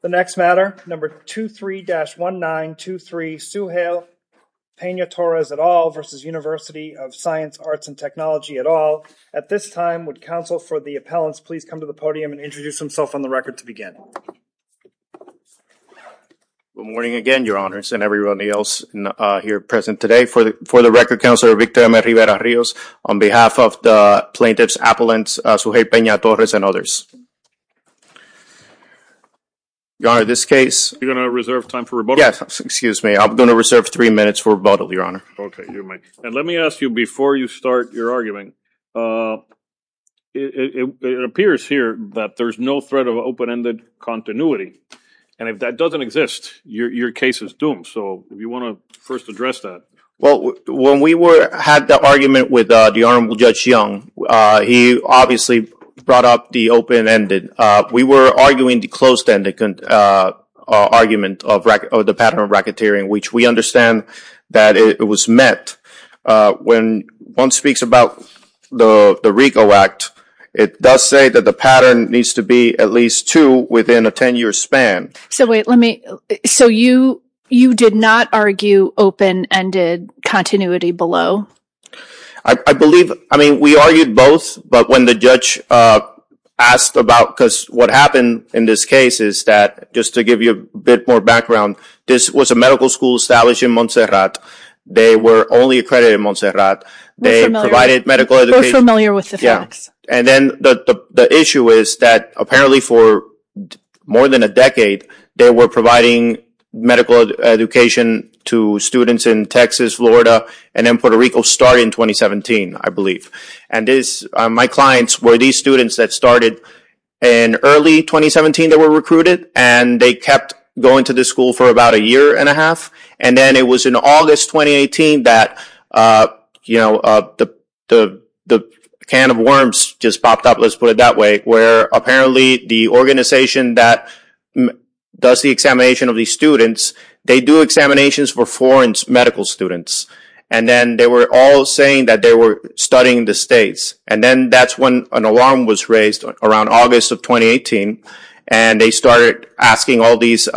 The next matter, number 23-1923, Suheil Pena-Torres et al. v. University of Science, Arts and Technology et al. At this time, would counsel for the appellants please come to the podium and introduce himself on the record to begin. Good morning again, your honors, and everyone else here present today. For the record, Counselor Victor M. Rivera-Rios, on behalf of the plaintiffs, appellants, Suheil Pena-Torres and others. Your honor, this case... You're going to reserve time for rebuttal? Yes, excuse me. I'm going to reserve three minutes for rebuttal, your honor. Okay, you may. And let me ask you, before you start your argument, it appears here that there's no threat of open-ended continuity, and if that doesn't exist, your case is doomed. So, if you want to first address that. Well, when we had the argument with the Honorable Judge Young, he obviously brought up the open-ended. We were arguing the closed-ended argument of the pattern of racketeering, which we understand that it was met. When one speaks about the RICO Act, it does say that the pattern needs to be at least two within a ten-year span. So wait, let me... So you did not argue open-ended continuity below? I believe... I mean, we argued both, but when the judge asked about... Because what happened in this case is that, just to give you a bit more background, this was a medical school established in Montserrat. They were only accredited in Montserrat. We're familiar. They provided medical education. We're both familiar with the facts. Yeah. And then the issue is that apparently for more than a decade, they were providing medical education to students in Texas, Florida, and then Puerto Rico starting in 2017, I believe. And my clients were these students that started in early 2017 that were recruited, and they kept going to this school for about a year and a half. And then it was in August 2018 that the can of worms just popped up, let's put it that way, where apparently the organization that does the examination of these students, they do examinations for foreign medical students. And then they were all saying that they were studying the States. And then that's when an alarm was raised around August of 2018, and they started asking all these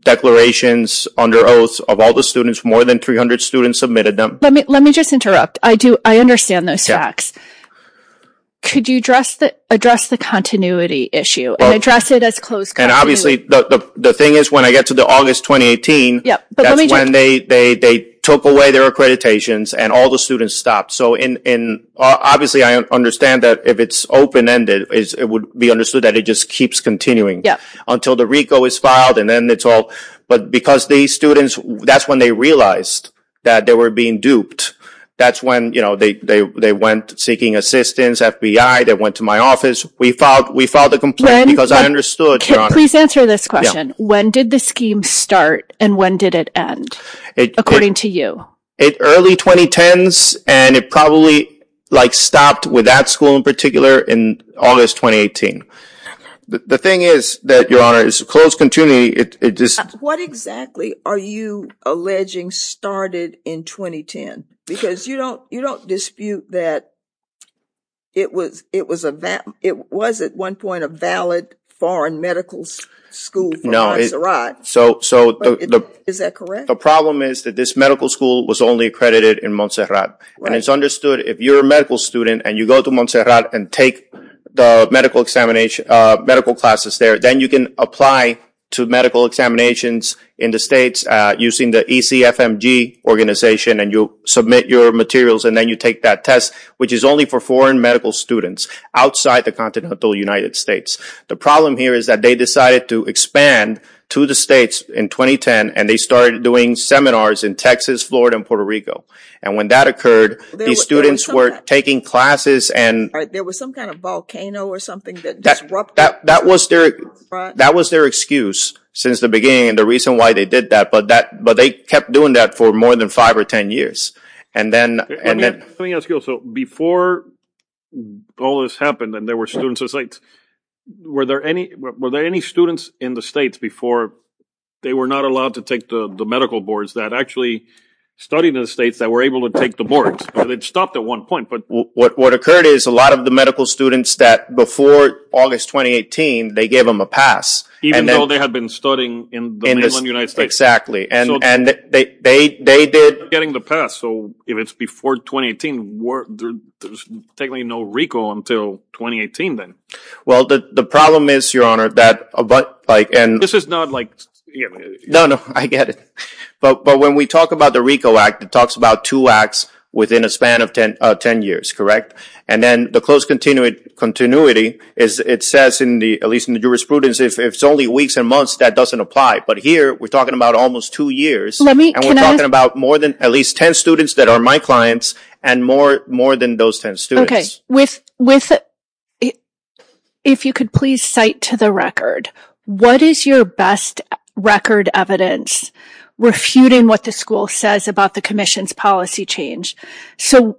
declarations under oath of all the students. More than 300 students submitted them. Let me just interrupt. I understand those facts. Could you address the continuity issue and address it as close continuity? And obviously the thing is when I get to the August 2018, that's when they took away their accreditations and all the students stopped. So obviously I understand that if it's open-ended, it would be understood that it just keeps continuing until the RICO is filed. But because these students, that's when they realized that they were being duped. That's when they went seeking assistance, FBI, they went to my office. We filed the complaint because I understood, Your Honor. Please answer this question. When did the scheme start and when did it end, according to you? Early 2010s, and it probably stopped with that school in particular in August 2018. The thing is that, Your Honor, it's close continuity. What exactly are you alleging started in 2010? Because you don't dispute that it was at one point a valid foreign medical school for Montserrat. Is that correct? The problem is that this medical school was only accredited in Montserrat. And it's understood if you're a medical student and you go to Montserrat and take the medical classes there, then you can apply to medical examinations in the States using the ECFMG organization, and you'll submit your materials and then you take that test, which is only for foreign medical students outside the continental United States. The problem here is that they decided to expand to the States in 2010, and they started doing seminars in Texas, Florida, and Puerto Rico. And when that occurred, the students were taking classes and... There was some kind of volcano or something that disrupted... That was their excuse since the beginning and the reason why they did that. But they kept doing that for more than five or ten years. And then... Let me ask you also, before all this happened and there were students in the States, were there any students in the States before they were not allowed to take the medical boards that actually studied in the States that were able to take the boards? It stopped at one point, but... What occurred is a lot of the medical students that before August 2018, they gave them a pass. Even though they had been studying in the mainland United States. Exactly. And they did... Getting the pass. So if it's before 2018, there's technically no recall until 2018 then. Well, the problem is, Your Honor, that... This is not like... No, no, I get it. But when we talk about the RICO Act, it talks about two acts within a span of ten years, correct? And then the close continuity, it says in the... At least in the jurisprudence, if it's only weeks and months, that doesn't apply. But here, we're talking about almost two years. Let me... And we're talking about more than at least ten students that are my clients and more than those ten students. With... If you could please cite to the record, what is your best record evidence refuting what the school says about the commission's policy change? So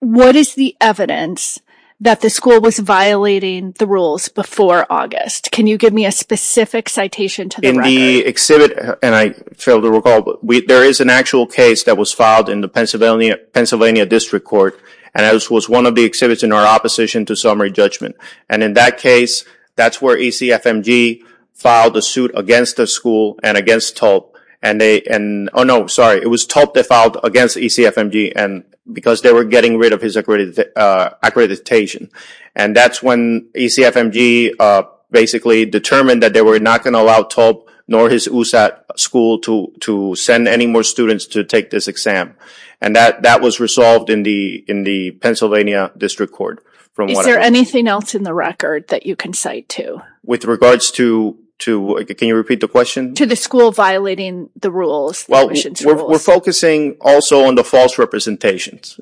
what is the evidence that the school was violating the rules before August? Can you give me a specific citation to the record? In the exhibit, and I failed to recall, there is an actual case that was filed in the Pennsylvania District Court. And that was one of the exhibits in our opposition to summary judgment. And in that case, that's where ECFMG filed a suit against the school and against TULP. And they... Oh, no, sorry. It was TULP that filed against ECFMG because they were getting rid of his accreditation. And that's when ECFMG basically determined that they were not going to allow TULP nor his USAT school to send any more students to take this exam. And that was resolved in the Pennsylvania District Court. Is there anything else in the record that you can cite to? With regards to... Can you repeat the question? To the school violating the rules. Well, we're focusing also on the false representations.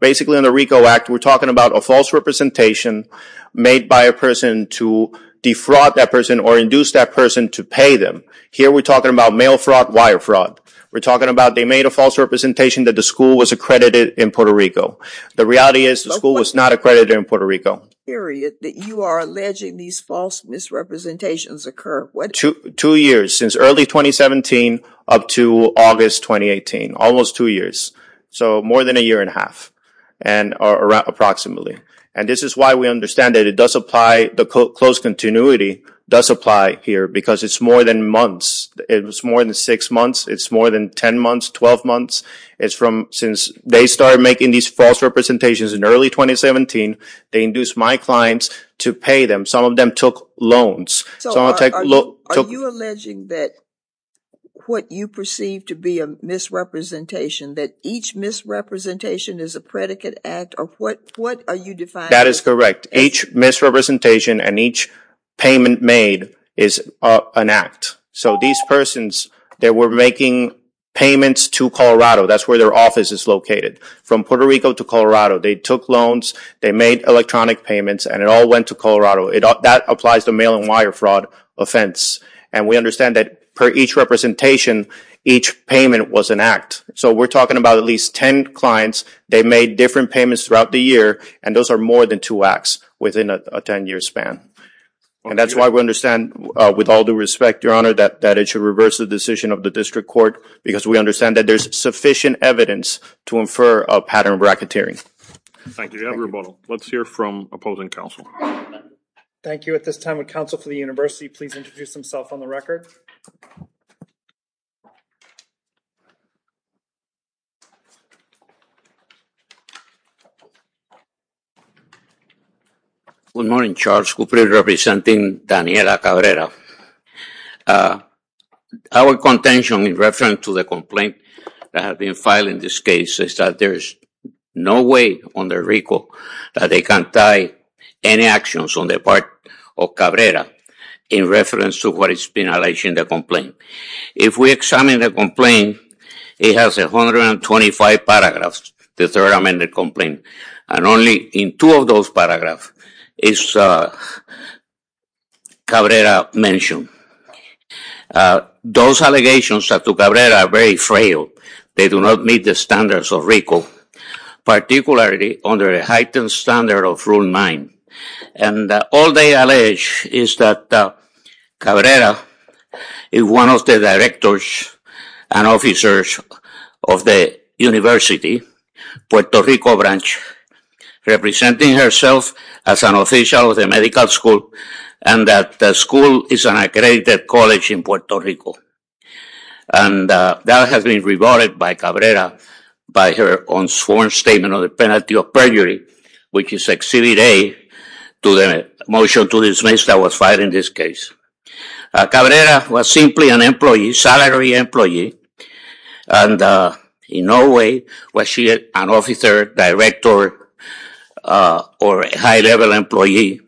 Basically, in the RICO Act, we're talking about a false representation made by a person to defraud that person or induce that person to pay them. Here, we're talking about mail fraud, wire fraud. We're talking about they made a false representation that the school was accredited in Puerto Rico. The reality is the school was not accredited in Puerto Rico. You are alleging these false misrepresentations occur... Two years, since early 2017 up to August 2018. Almost two years. So, more than a year and a half, approximately. And this is why we understand that it does apply... The closed continuity does apply here because it's more than months. It was more than six months. It's more than 10 months, 12 months. Since they started making these false representations in early 2017, they induced my clients to pay them. Some of them took loans. Are you alleging that what you perceive to be a misrepresentation, that each misrepresentation is a predicate act or what are you defining? That is correct. Each misrepresentation and each payment made is an act. So, these persons, they were making payments to Colorado. That's where their office is located. From Puerto Rico to Colorado, they took loans, they made electronic payments, and it all went to Colorado. That applies to mail and wire fraud offense. And we understand that per each representation, each payment was an act. So, we're talking about at least 10 clients. They made different payments throughout the year, and those are more than two acts within a 10-year span. And that's why we understand, with all due respect, Your Honor, that it should reverse the decision of the district court because we understand that there's sufficient evidence to infer a pattern of bracketeering. Thank you. Let's hear from opposing counsel. Thank you. At this time, would counsel for the university please introduce himself on the record? Good morning, Charles. Good morning, representing Daniela Cabrera. Our contention in reference to the complaint that has been filed in this case is that there is no way on the record that they can tie any actions on the part of Cabrera in reference to what has been alleged in the complaint. If we examine the complaint, it has 125 paragraphs, the third amended complaint. And only in two of those paragraphs is Cabrera mentioned. Those allegations to Cabrera are very frail. They do not meet the standards of RICO, particularly under a heightened standard of Rule 9. All they allege is that Cabrera is one of the directors and officers of the university's Puerto Rico branch, representing herself as an official of the medical school and that the school is an accredited college in Puerto Rico. That has been rebutted by Cabrera by her own sworn statement on the penalty of perjury, which is Exhibit A to the motion to dismiss that was filed in this case. Cabrera was simply an employee, salary employee, and in no way was she an officer, director, or high-level employee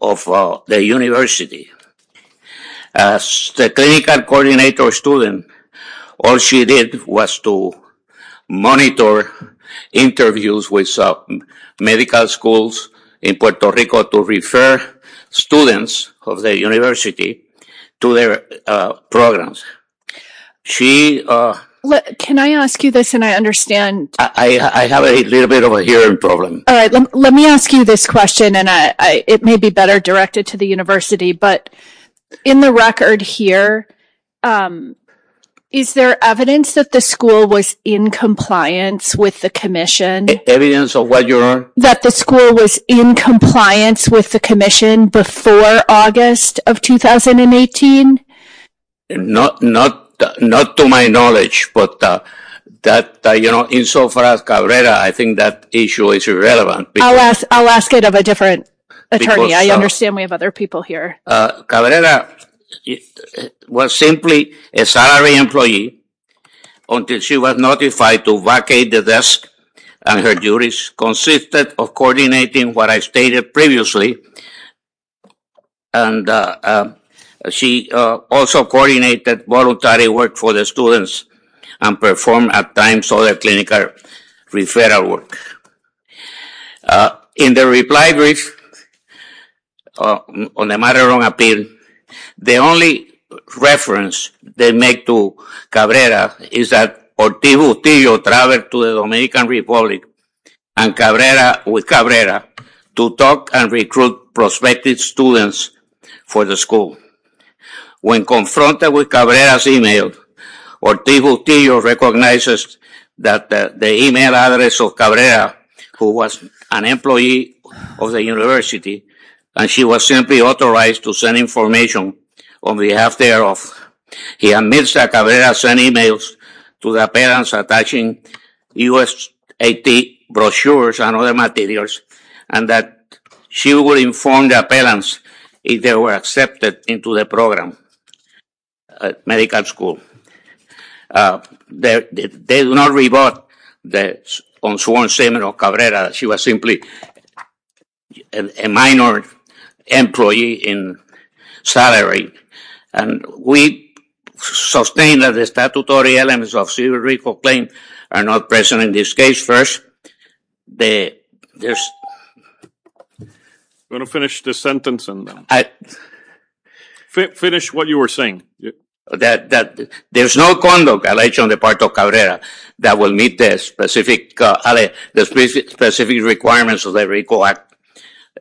of the university. As the clinical coordinator student, all she did was to monitor interviews with medical schools in Puerto Rico to refer students of the university to their programs. Can I ask you this and I understand? I have a little bit of a hearing problem. All right, let me ask you this question, and it may be better directed to the university, but in the record here, is there evidence that the school was in compliance with the commission? Evidence of what, Your Honor? That the school was in compliance with the commission before August of 2018? Not to my knowledge, but that, you know, insofar as Cabrera, I think that issue is irrelevant. I'll ask it of a different attorney. I understand we have other people here. Cabrera was simply a salary employee until she was notified to vacate the desk, and her duties consisted of coordinating what I stated previously, and she also coordinated voluntary work for the students and performed at times other clinical referral work. In the reply brief, on the matter of appeal, the only reference they make to Cabrera is that Ortiz-Bustillo traveled to the Dominican Republic with Cabrera to talk and recruit prospective students for the school. When confronted with Cabrera's email, Ortiz-Bustillo recognizes that the email address of Cabrera, who was an employee of the university, and she was simply authorized to send information on behalf thereof. He admits that Cabrera sent emails to the appellants attaching U.S.A.T. brochures and other materials and that she would inform the appellants if they were accepted into the program at medical school. They do not rebut that on sworn statement of Cabrera that she was simply a minor employee in salary, and we sustain that the statutory elements of civil reclaim are not present in this case. I'm going to finish this sentence. Finish what you were saying. There's no conduct alleged on the part of Cabrera that will meet the specific requirements of the RICO Act.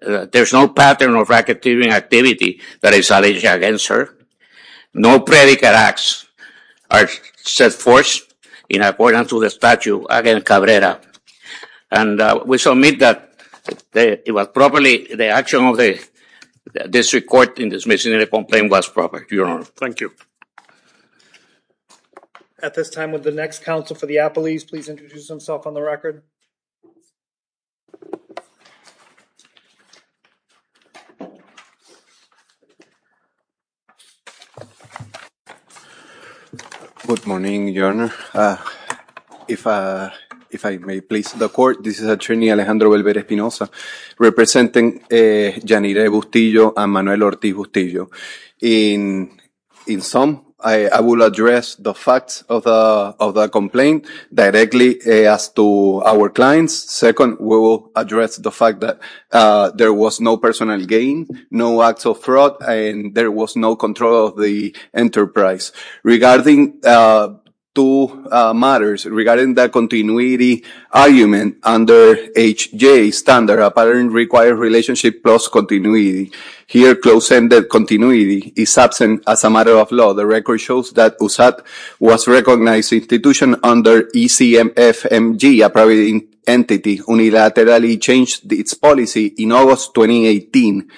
There's no pattern of racketeering activity that is alleged against her. No predicate acts are set forth in accordance to the statute against Cabrera, and we submit that it was properly the action of the district court in dismissing the complaint was proper, Your Honor. Thank you. At this time, would the next counsel for the appellees please introduce himself on the record? Good morning, Your Honor. If I may please the court, this is attorney Alejandro Belver Espinoza representing Janire Bustillo and Manuel Ortiz Bustillo. In sum, I will address the facts of the complaint directly as to our clients. Second, we will address the fact that there was no personal gain, no acts of fraud, and there was no control of the enterprise. Regarding two matters, regarding the continuity argument under H.J.'s standard, a pattern requires relationship plus continuity. Here, close-ended continuity is absent as a matter of law. The record shows that USAT was recognized institution under ECMFMG, a private entity, unilaterally changed its policy in August 2018,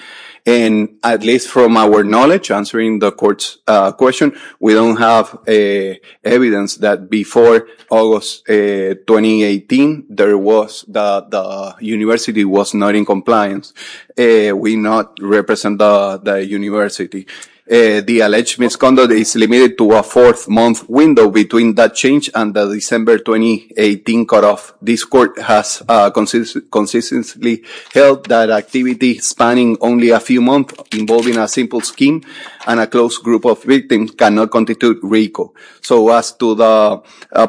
and at least from our knowledge, answering the court's question, we don't have evidence that before August 2018, the university was not in compliance. We do not represent the university. The alleged misconduct is limited to a fourth-month window between that change and the December 2018 cutoff. This court has consistently held that activity spanning only a few months involving a simple scheme and a close group of victims cannot constitute RICO. So as to the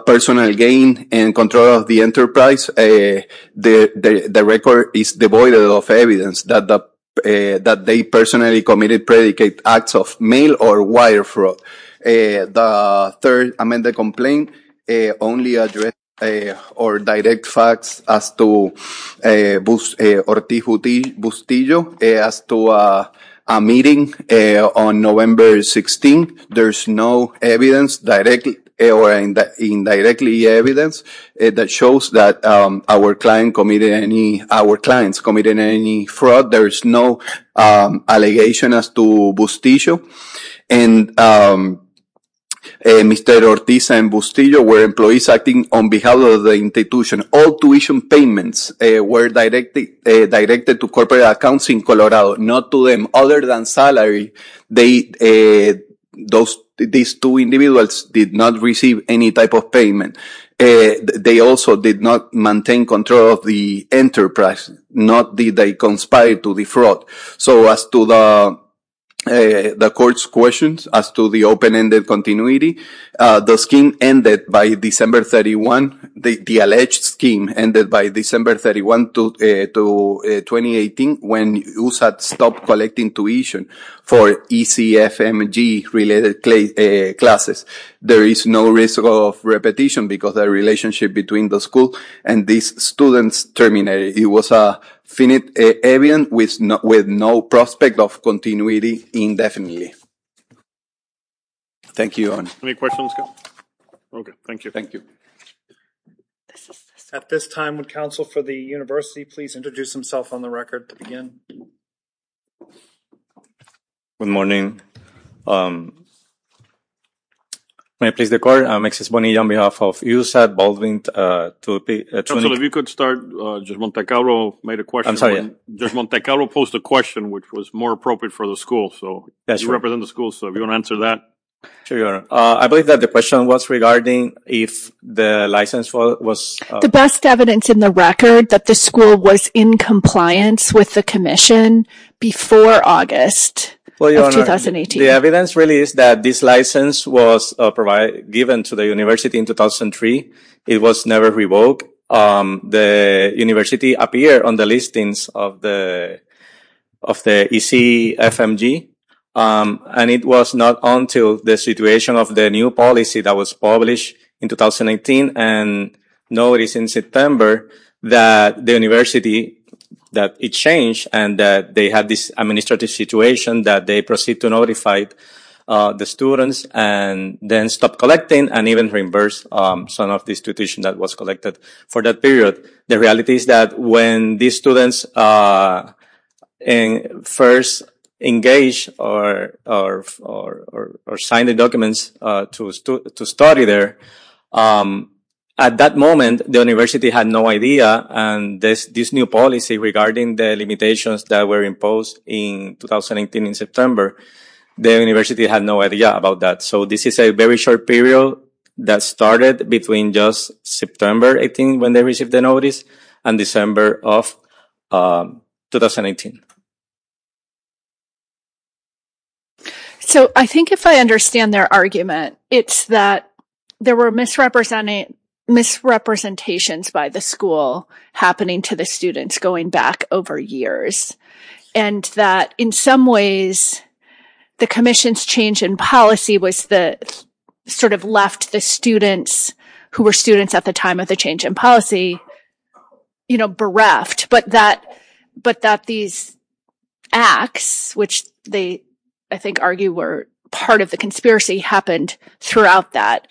personal gain and control of the enterprise, the record is devoid of evidence that they personally committed predicate acts of mail or wire fraud. The third amended complaint only addressed or direct facts as to Ortijo Bustillo. As to a meeting on November 16, there's no evidence directly or indirectly evidence that shows that our clients committed any fraud. There is no allegation as to Bustillo. And Mr. Ortijo and Bustillo were employees acting on behalf of the institution. All tuition payments were directed to corporate accounts in Colorado, not to them other than salary. These two individuals did not receive any type of payment. They also did not maintain control of the enterprise, nor did they conspire to defraud. So as to the court's questions as to the open-ended continuity, the scheme ended by December 31. The alleged scheme ended by December 31 to 2018 when USAT stopped collecting tuition for ECFMG-related classes. There is no risk of repetition because the relationship between the school and these students terminated. It was a finite evidence with no prospect of continuity indefinitely. Thank you. Any questions? Okay, thank you. Thank you. At this time, would counsel for the university please introduce himself on the record to begin? Good morning. May I please the court? I'm Exus Bonilla on behalf of USAT Baldwin. Counsel, if you could start, Judge Montecalvo made a question. I'm sorry. Judge Montecalvo posed a question which was more appropriate for the school. So you represent the school, so if you want to answer that. Sure, Your Honor. I believe that the question was regarding if the license was- The best evidence in the record that the school was in compliance with the commission before August of 2018. The evidence really is that this license was given to the university in 2003. It was never revoked. The university appeared on the listings of the ECFMG, and it was not until the situation of the new policy that was published in 2018 and notice in September that the university, that it changed, and that they had this administrative situation, that they proceed to notify the students and then stop collecting and even reimburse some of the institution that was collected for that period. The reality is that when these students first engage or sign the documents to study there, at that moment, the university had no idea, and this new policy regarding the limitations that were imposed in 2018 in September, the university had no idea about that. So this is a very short period that started between just September, I think, when they received the notice, and December of 2018. So I think if I understand their argument, it's that there were misrepresentations by the school happening to the students going back over years, and that in some ways, the commission's change in policy was the sort of left the students who were students at the time of the change in policy, you know, bereft, but that these acts, which they, I think, argue were part of the conspiracy, happened throughout that.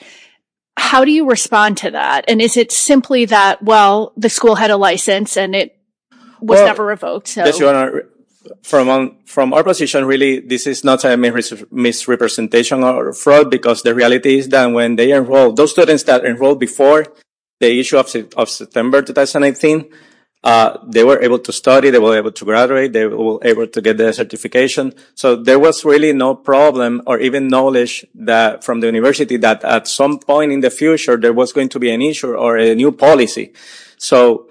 How do you respond to that, and is it simply that, well, the school had a license and it was never revoked? From our position, really, this is not a misrepresentation or a fraud because the reality is that when they enroll, those students that enrolled before the issue of September 2018, they were able to study, they were able to graduate, they were able to get their certification. So there was really no problem or even knowledge from the university that at some point in the future, there was going to be an issue or a new policy. So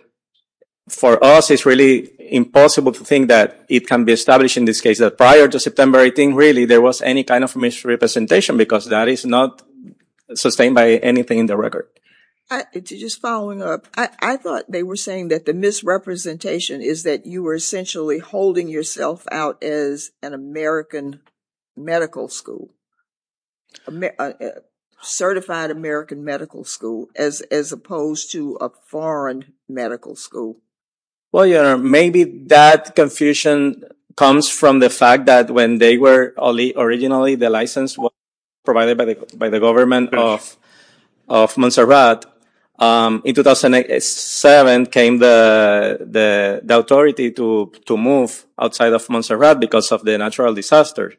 for us, it's really impossible to think that it can be established in this case, that prior to September, I think, really, there was any kind of misrepresentation because that is not sustained by anything in the record. Just following up, I thought they were saying that the misrepresentation is that you were essentially holding yourself out as an American medical school, a certified American medical school, as opposed to a foreign medical school. Well, Your Honor, maybe that confusion comes from the fact that when originally the license was provided by the government of Montserrat, in 2007 came the authority to move outside of Montserrat because of the natural disaster.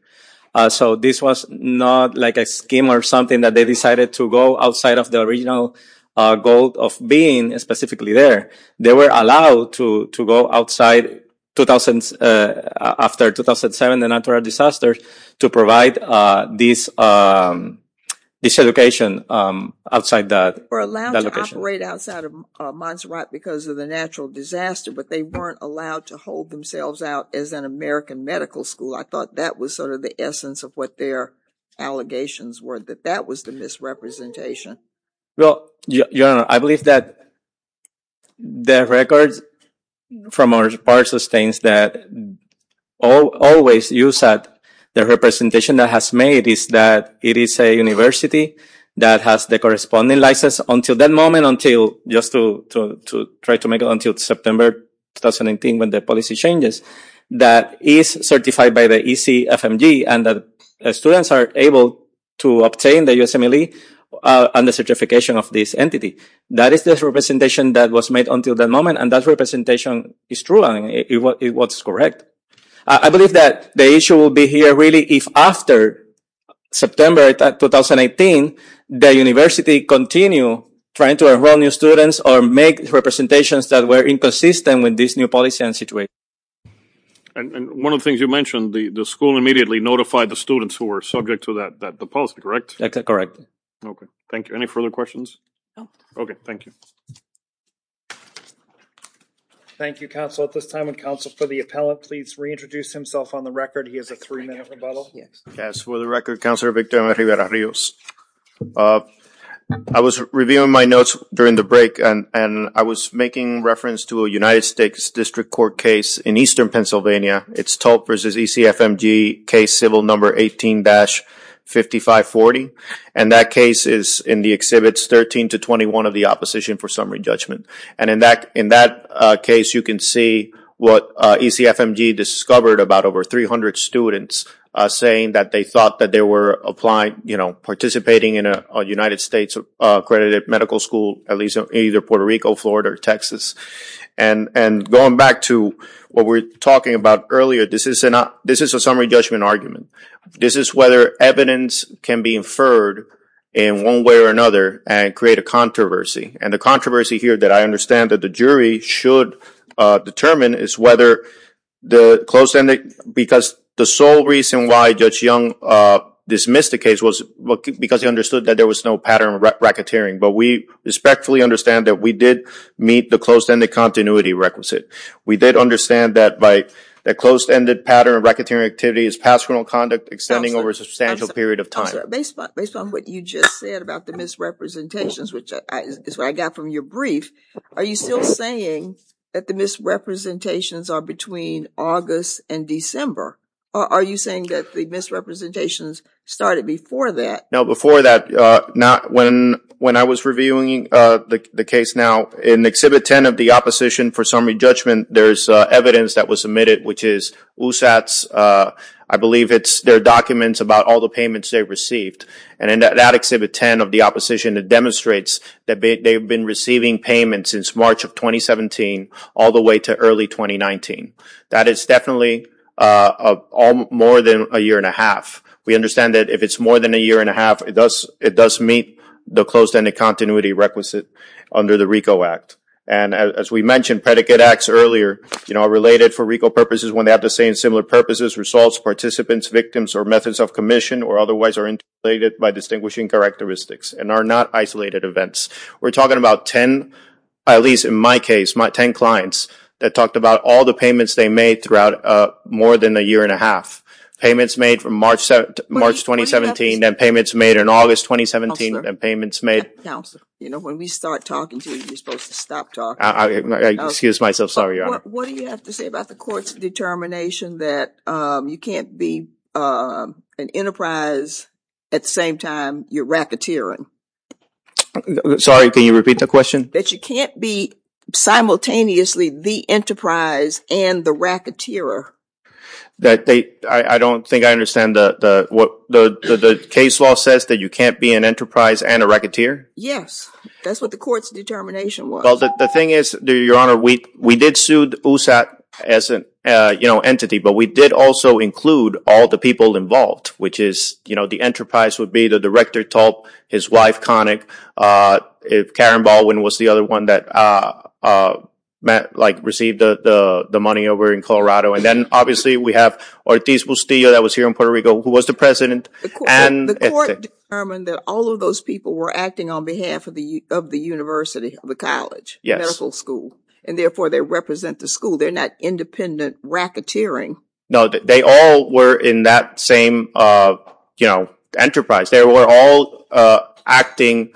So this was not like a scheme or something that they decided to go outside of the original goal of being specifically there. They were allowed to go outside after 2007, the natural disaster, to provide this education outside that location. They were allowed to operate outside of Montserrat because of the natural disaster, but they weren't allowed to hold themselves out as an American medical school. I thought that was sort of the essence of what their allegations were, that that was the misrepresentation. Well, Your Honor, I believe that the records from our part sustains that always you said the representation that has made is that it is a university that has the corresponding license until that moment, until just to try to make it until September 2018 when the policy changes, that is certified by the ECFMG and that students are able to obtain the USMLE and the certification of this entity. That is the representation that was made until that moment, and that representation is true and it was correct. I believe that the issue will be here really if after September 2018 the university continue trying to enroll new students or make representations that were inconsistent with this new policy and situation. And one of the things you mentioned, the school immediately notified the students who were subject to the policy, correct? Correct. Okay, thank you. Any further questions? No. Okay, thank you. Thank you, counsel. At this time, would counsel for the appellant please reintroduce himself on the record. He has a three-minute rebuttal. Yes, for the record, Counselor Victor Rivera-Rios. I was reviewing my notes during the break, and I was making reference to a United States District Court case in eastern Pennsylvania. It's Tulp versus ECFMG case civil number 18-5540, and that case is in the exhibits 13 to 21 of the opposition for summary judgment. And in that case you can see what ECFMG discovered about over 300 students saying that they thought that they were applying, you know, participating in a United States accredited medical school, at least in either Puerto Rico, Florida, or Texas. And going back to what we were talking about earlier, this is a summary judgment argument. This is whether evidence can be inferred in one way or another and create a controversy. And the controversy here that I understand that the jury should determine is whether the closed ending, because the sole reason why Judge Young dismissed the case was because he understood that there was no pattern of racketeering. But we respectfully understand that we did meet the closed ending continuity requisite. We did understand that by the closed ended pattern of racketeering activity is past criminal conduct extending over a substantial period of time. Based on what you just said about the misrepresentations, which is what I got from your brief, are you still saying that the misrepresentations are between August and December? Are you saying that the misrepresentations started before that? No, before that, when I was reviewing the case now, in Exhibit 10 of the opposition for summary judgment, there's evidence that was submitted, which is USAT's, I believe it's their documents about all the payments they received. And in that Exhibit 10 of the opposition, it demonstrates that they've been receiving payments since March of 2017 all the way to early 2019. That is definitely more than a year and a half. We understand that if it's more than a year and a half, it does meet the closed ending continuity requisite under the RICO Act. And as we mentioned, predicate acts earlier are related for RICO purposes when they have the same similar purposes, results, participants, victims, or methods of commission, or otherwise are interrelated by distinguishing characteristics and are not isolated events. We're talking about ten, at least in my case, ten clients that talked about all the payments they made throughout more than a year and a half. Payments made from March 2017 and payments made in August 2017 and payments made... Counselor, you know, when we start talking to you, you're supposed to stop talking. Excuse myself, sorry, Your Honor. What do you have to say about the court's determination that you can't be an enterprise at the same time you're racketeering? Sorry, can you repeat the question? That you can't be simultaneously the enterprise and the racketeer. I don't think I understand. The case law says that you can't be an enterprise and a racketeer? Yes, that's what the court's determination was. Well, the thing is, Your Honor, we did sue USAT as an entity, but we did also include all the people involved, which is the enterprise would be the director, Tulp, his wife, Connick. Karen Baldwin was the other one that received the money over in Colorado and then obviously we have Ortiz Bustillo that was here in Puerto Rico who was the president. The court determined that all of those people were acting on behalf of the university, the college, medical school, and therefore they represent the school. They're not independent racketeering. No, they all were in that same enterprise. They were all acting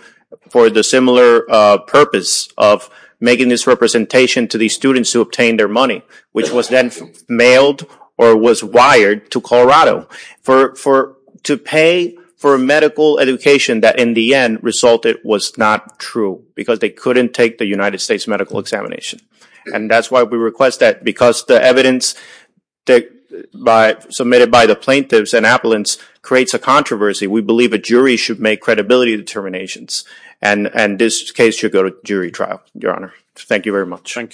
for the similar purpose of making this representation to these students who obtained their money, which was then mailed or was wired to Colorado to pay for a medical education that in the end resulted was not true because they couldn't take the United States medical examination. And that's why we request that because the evidence submitted by the plaintiffs and appellants creates a controversy. We believe a jury should make credibility determinations and this case should go to jury trial, Your Honor. Thank you very much. Thank you.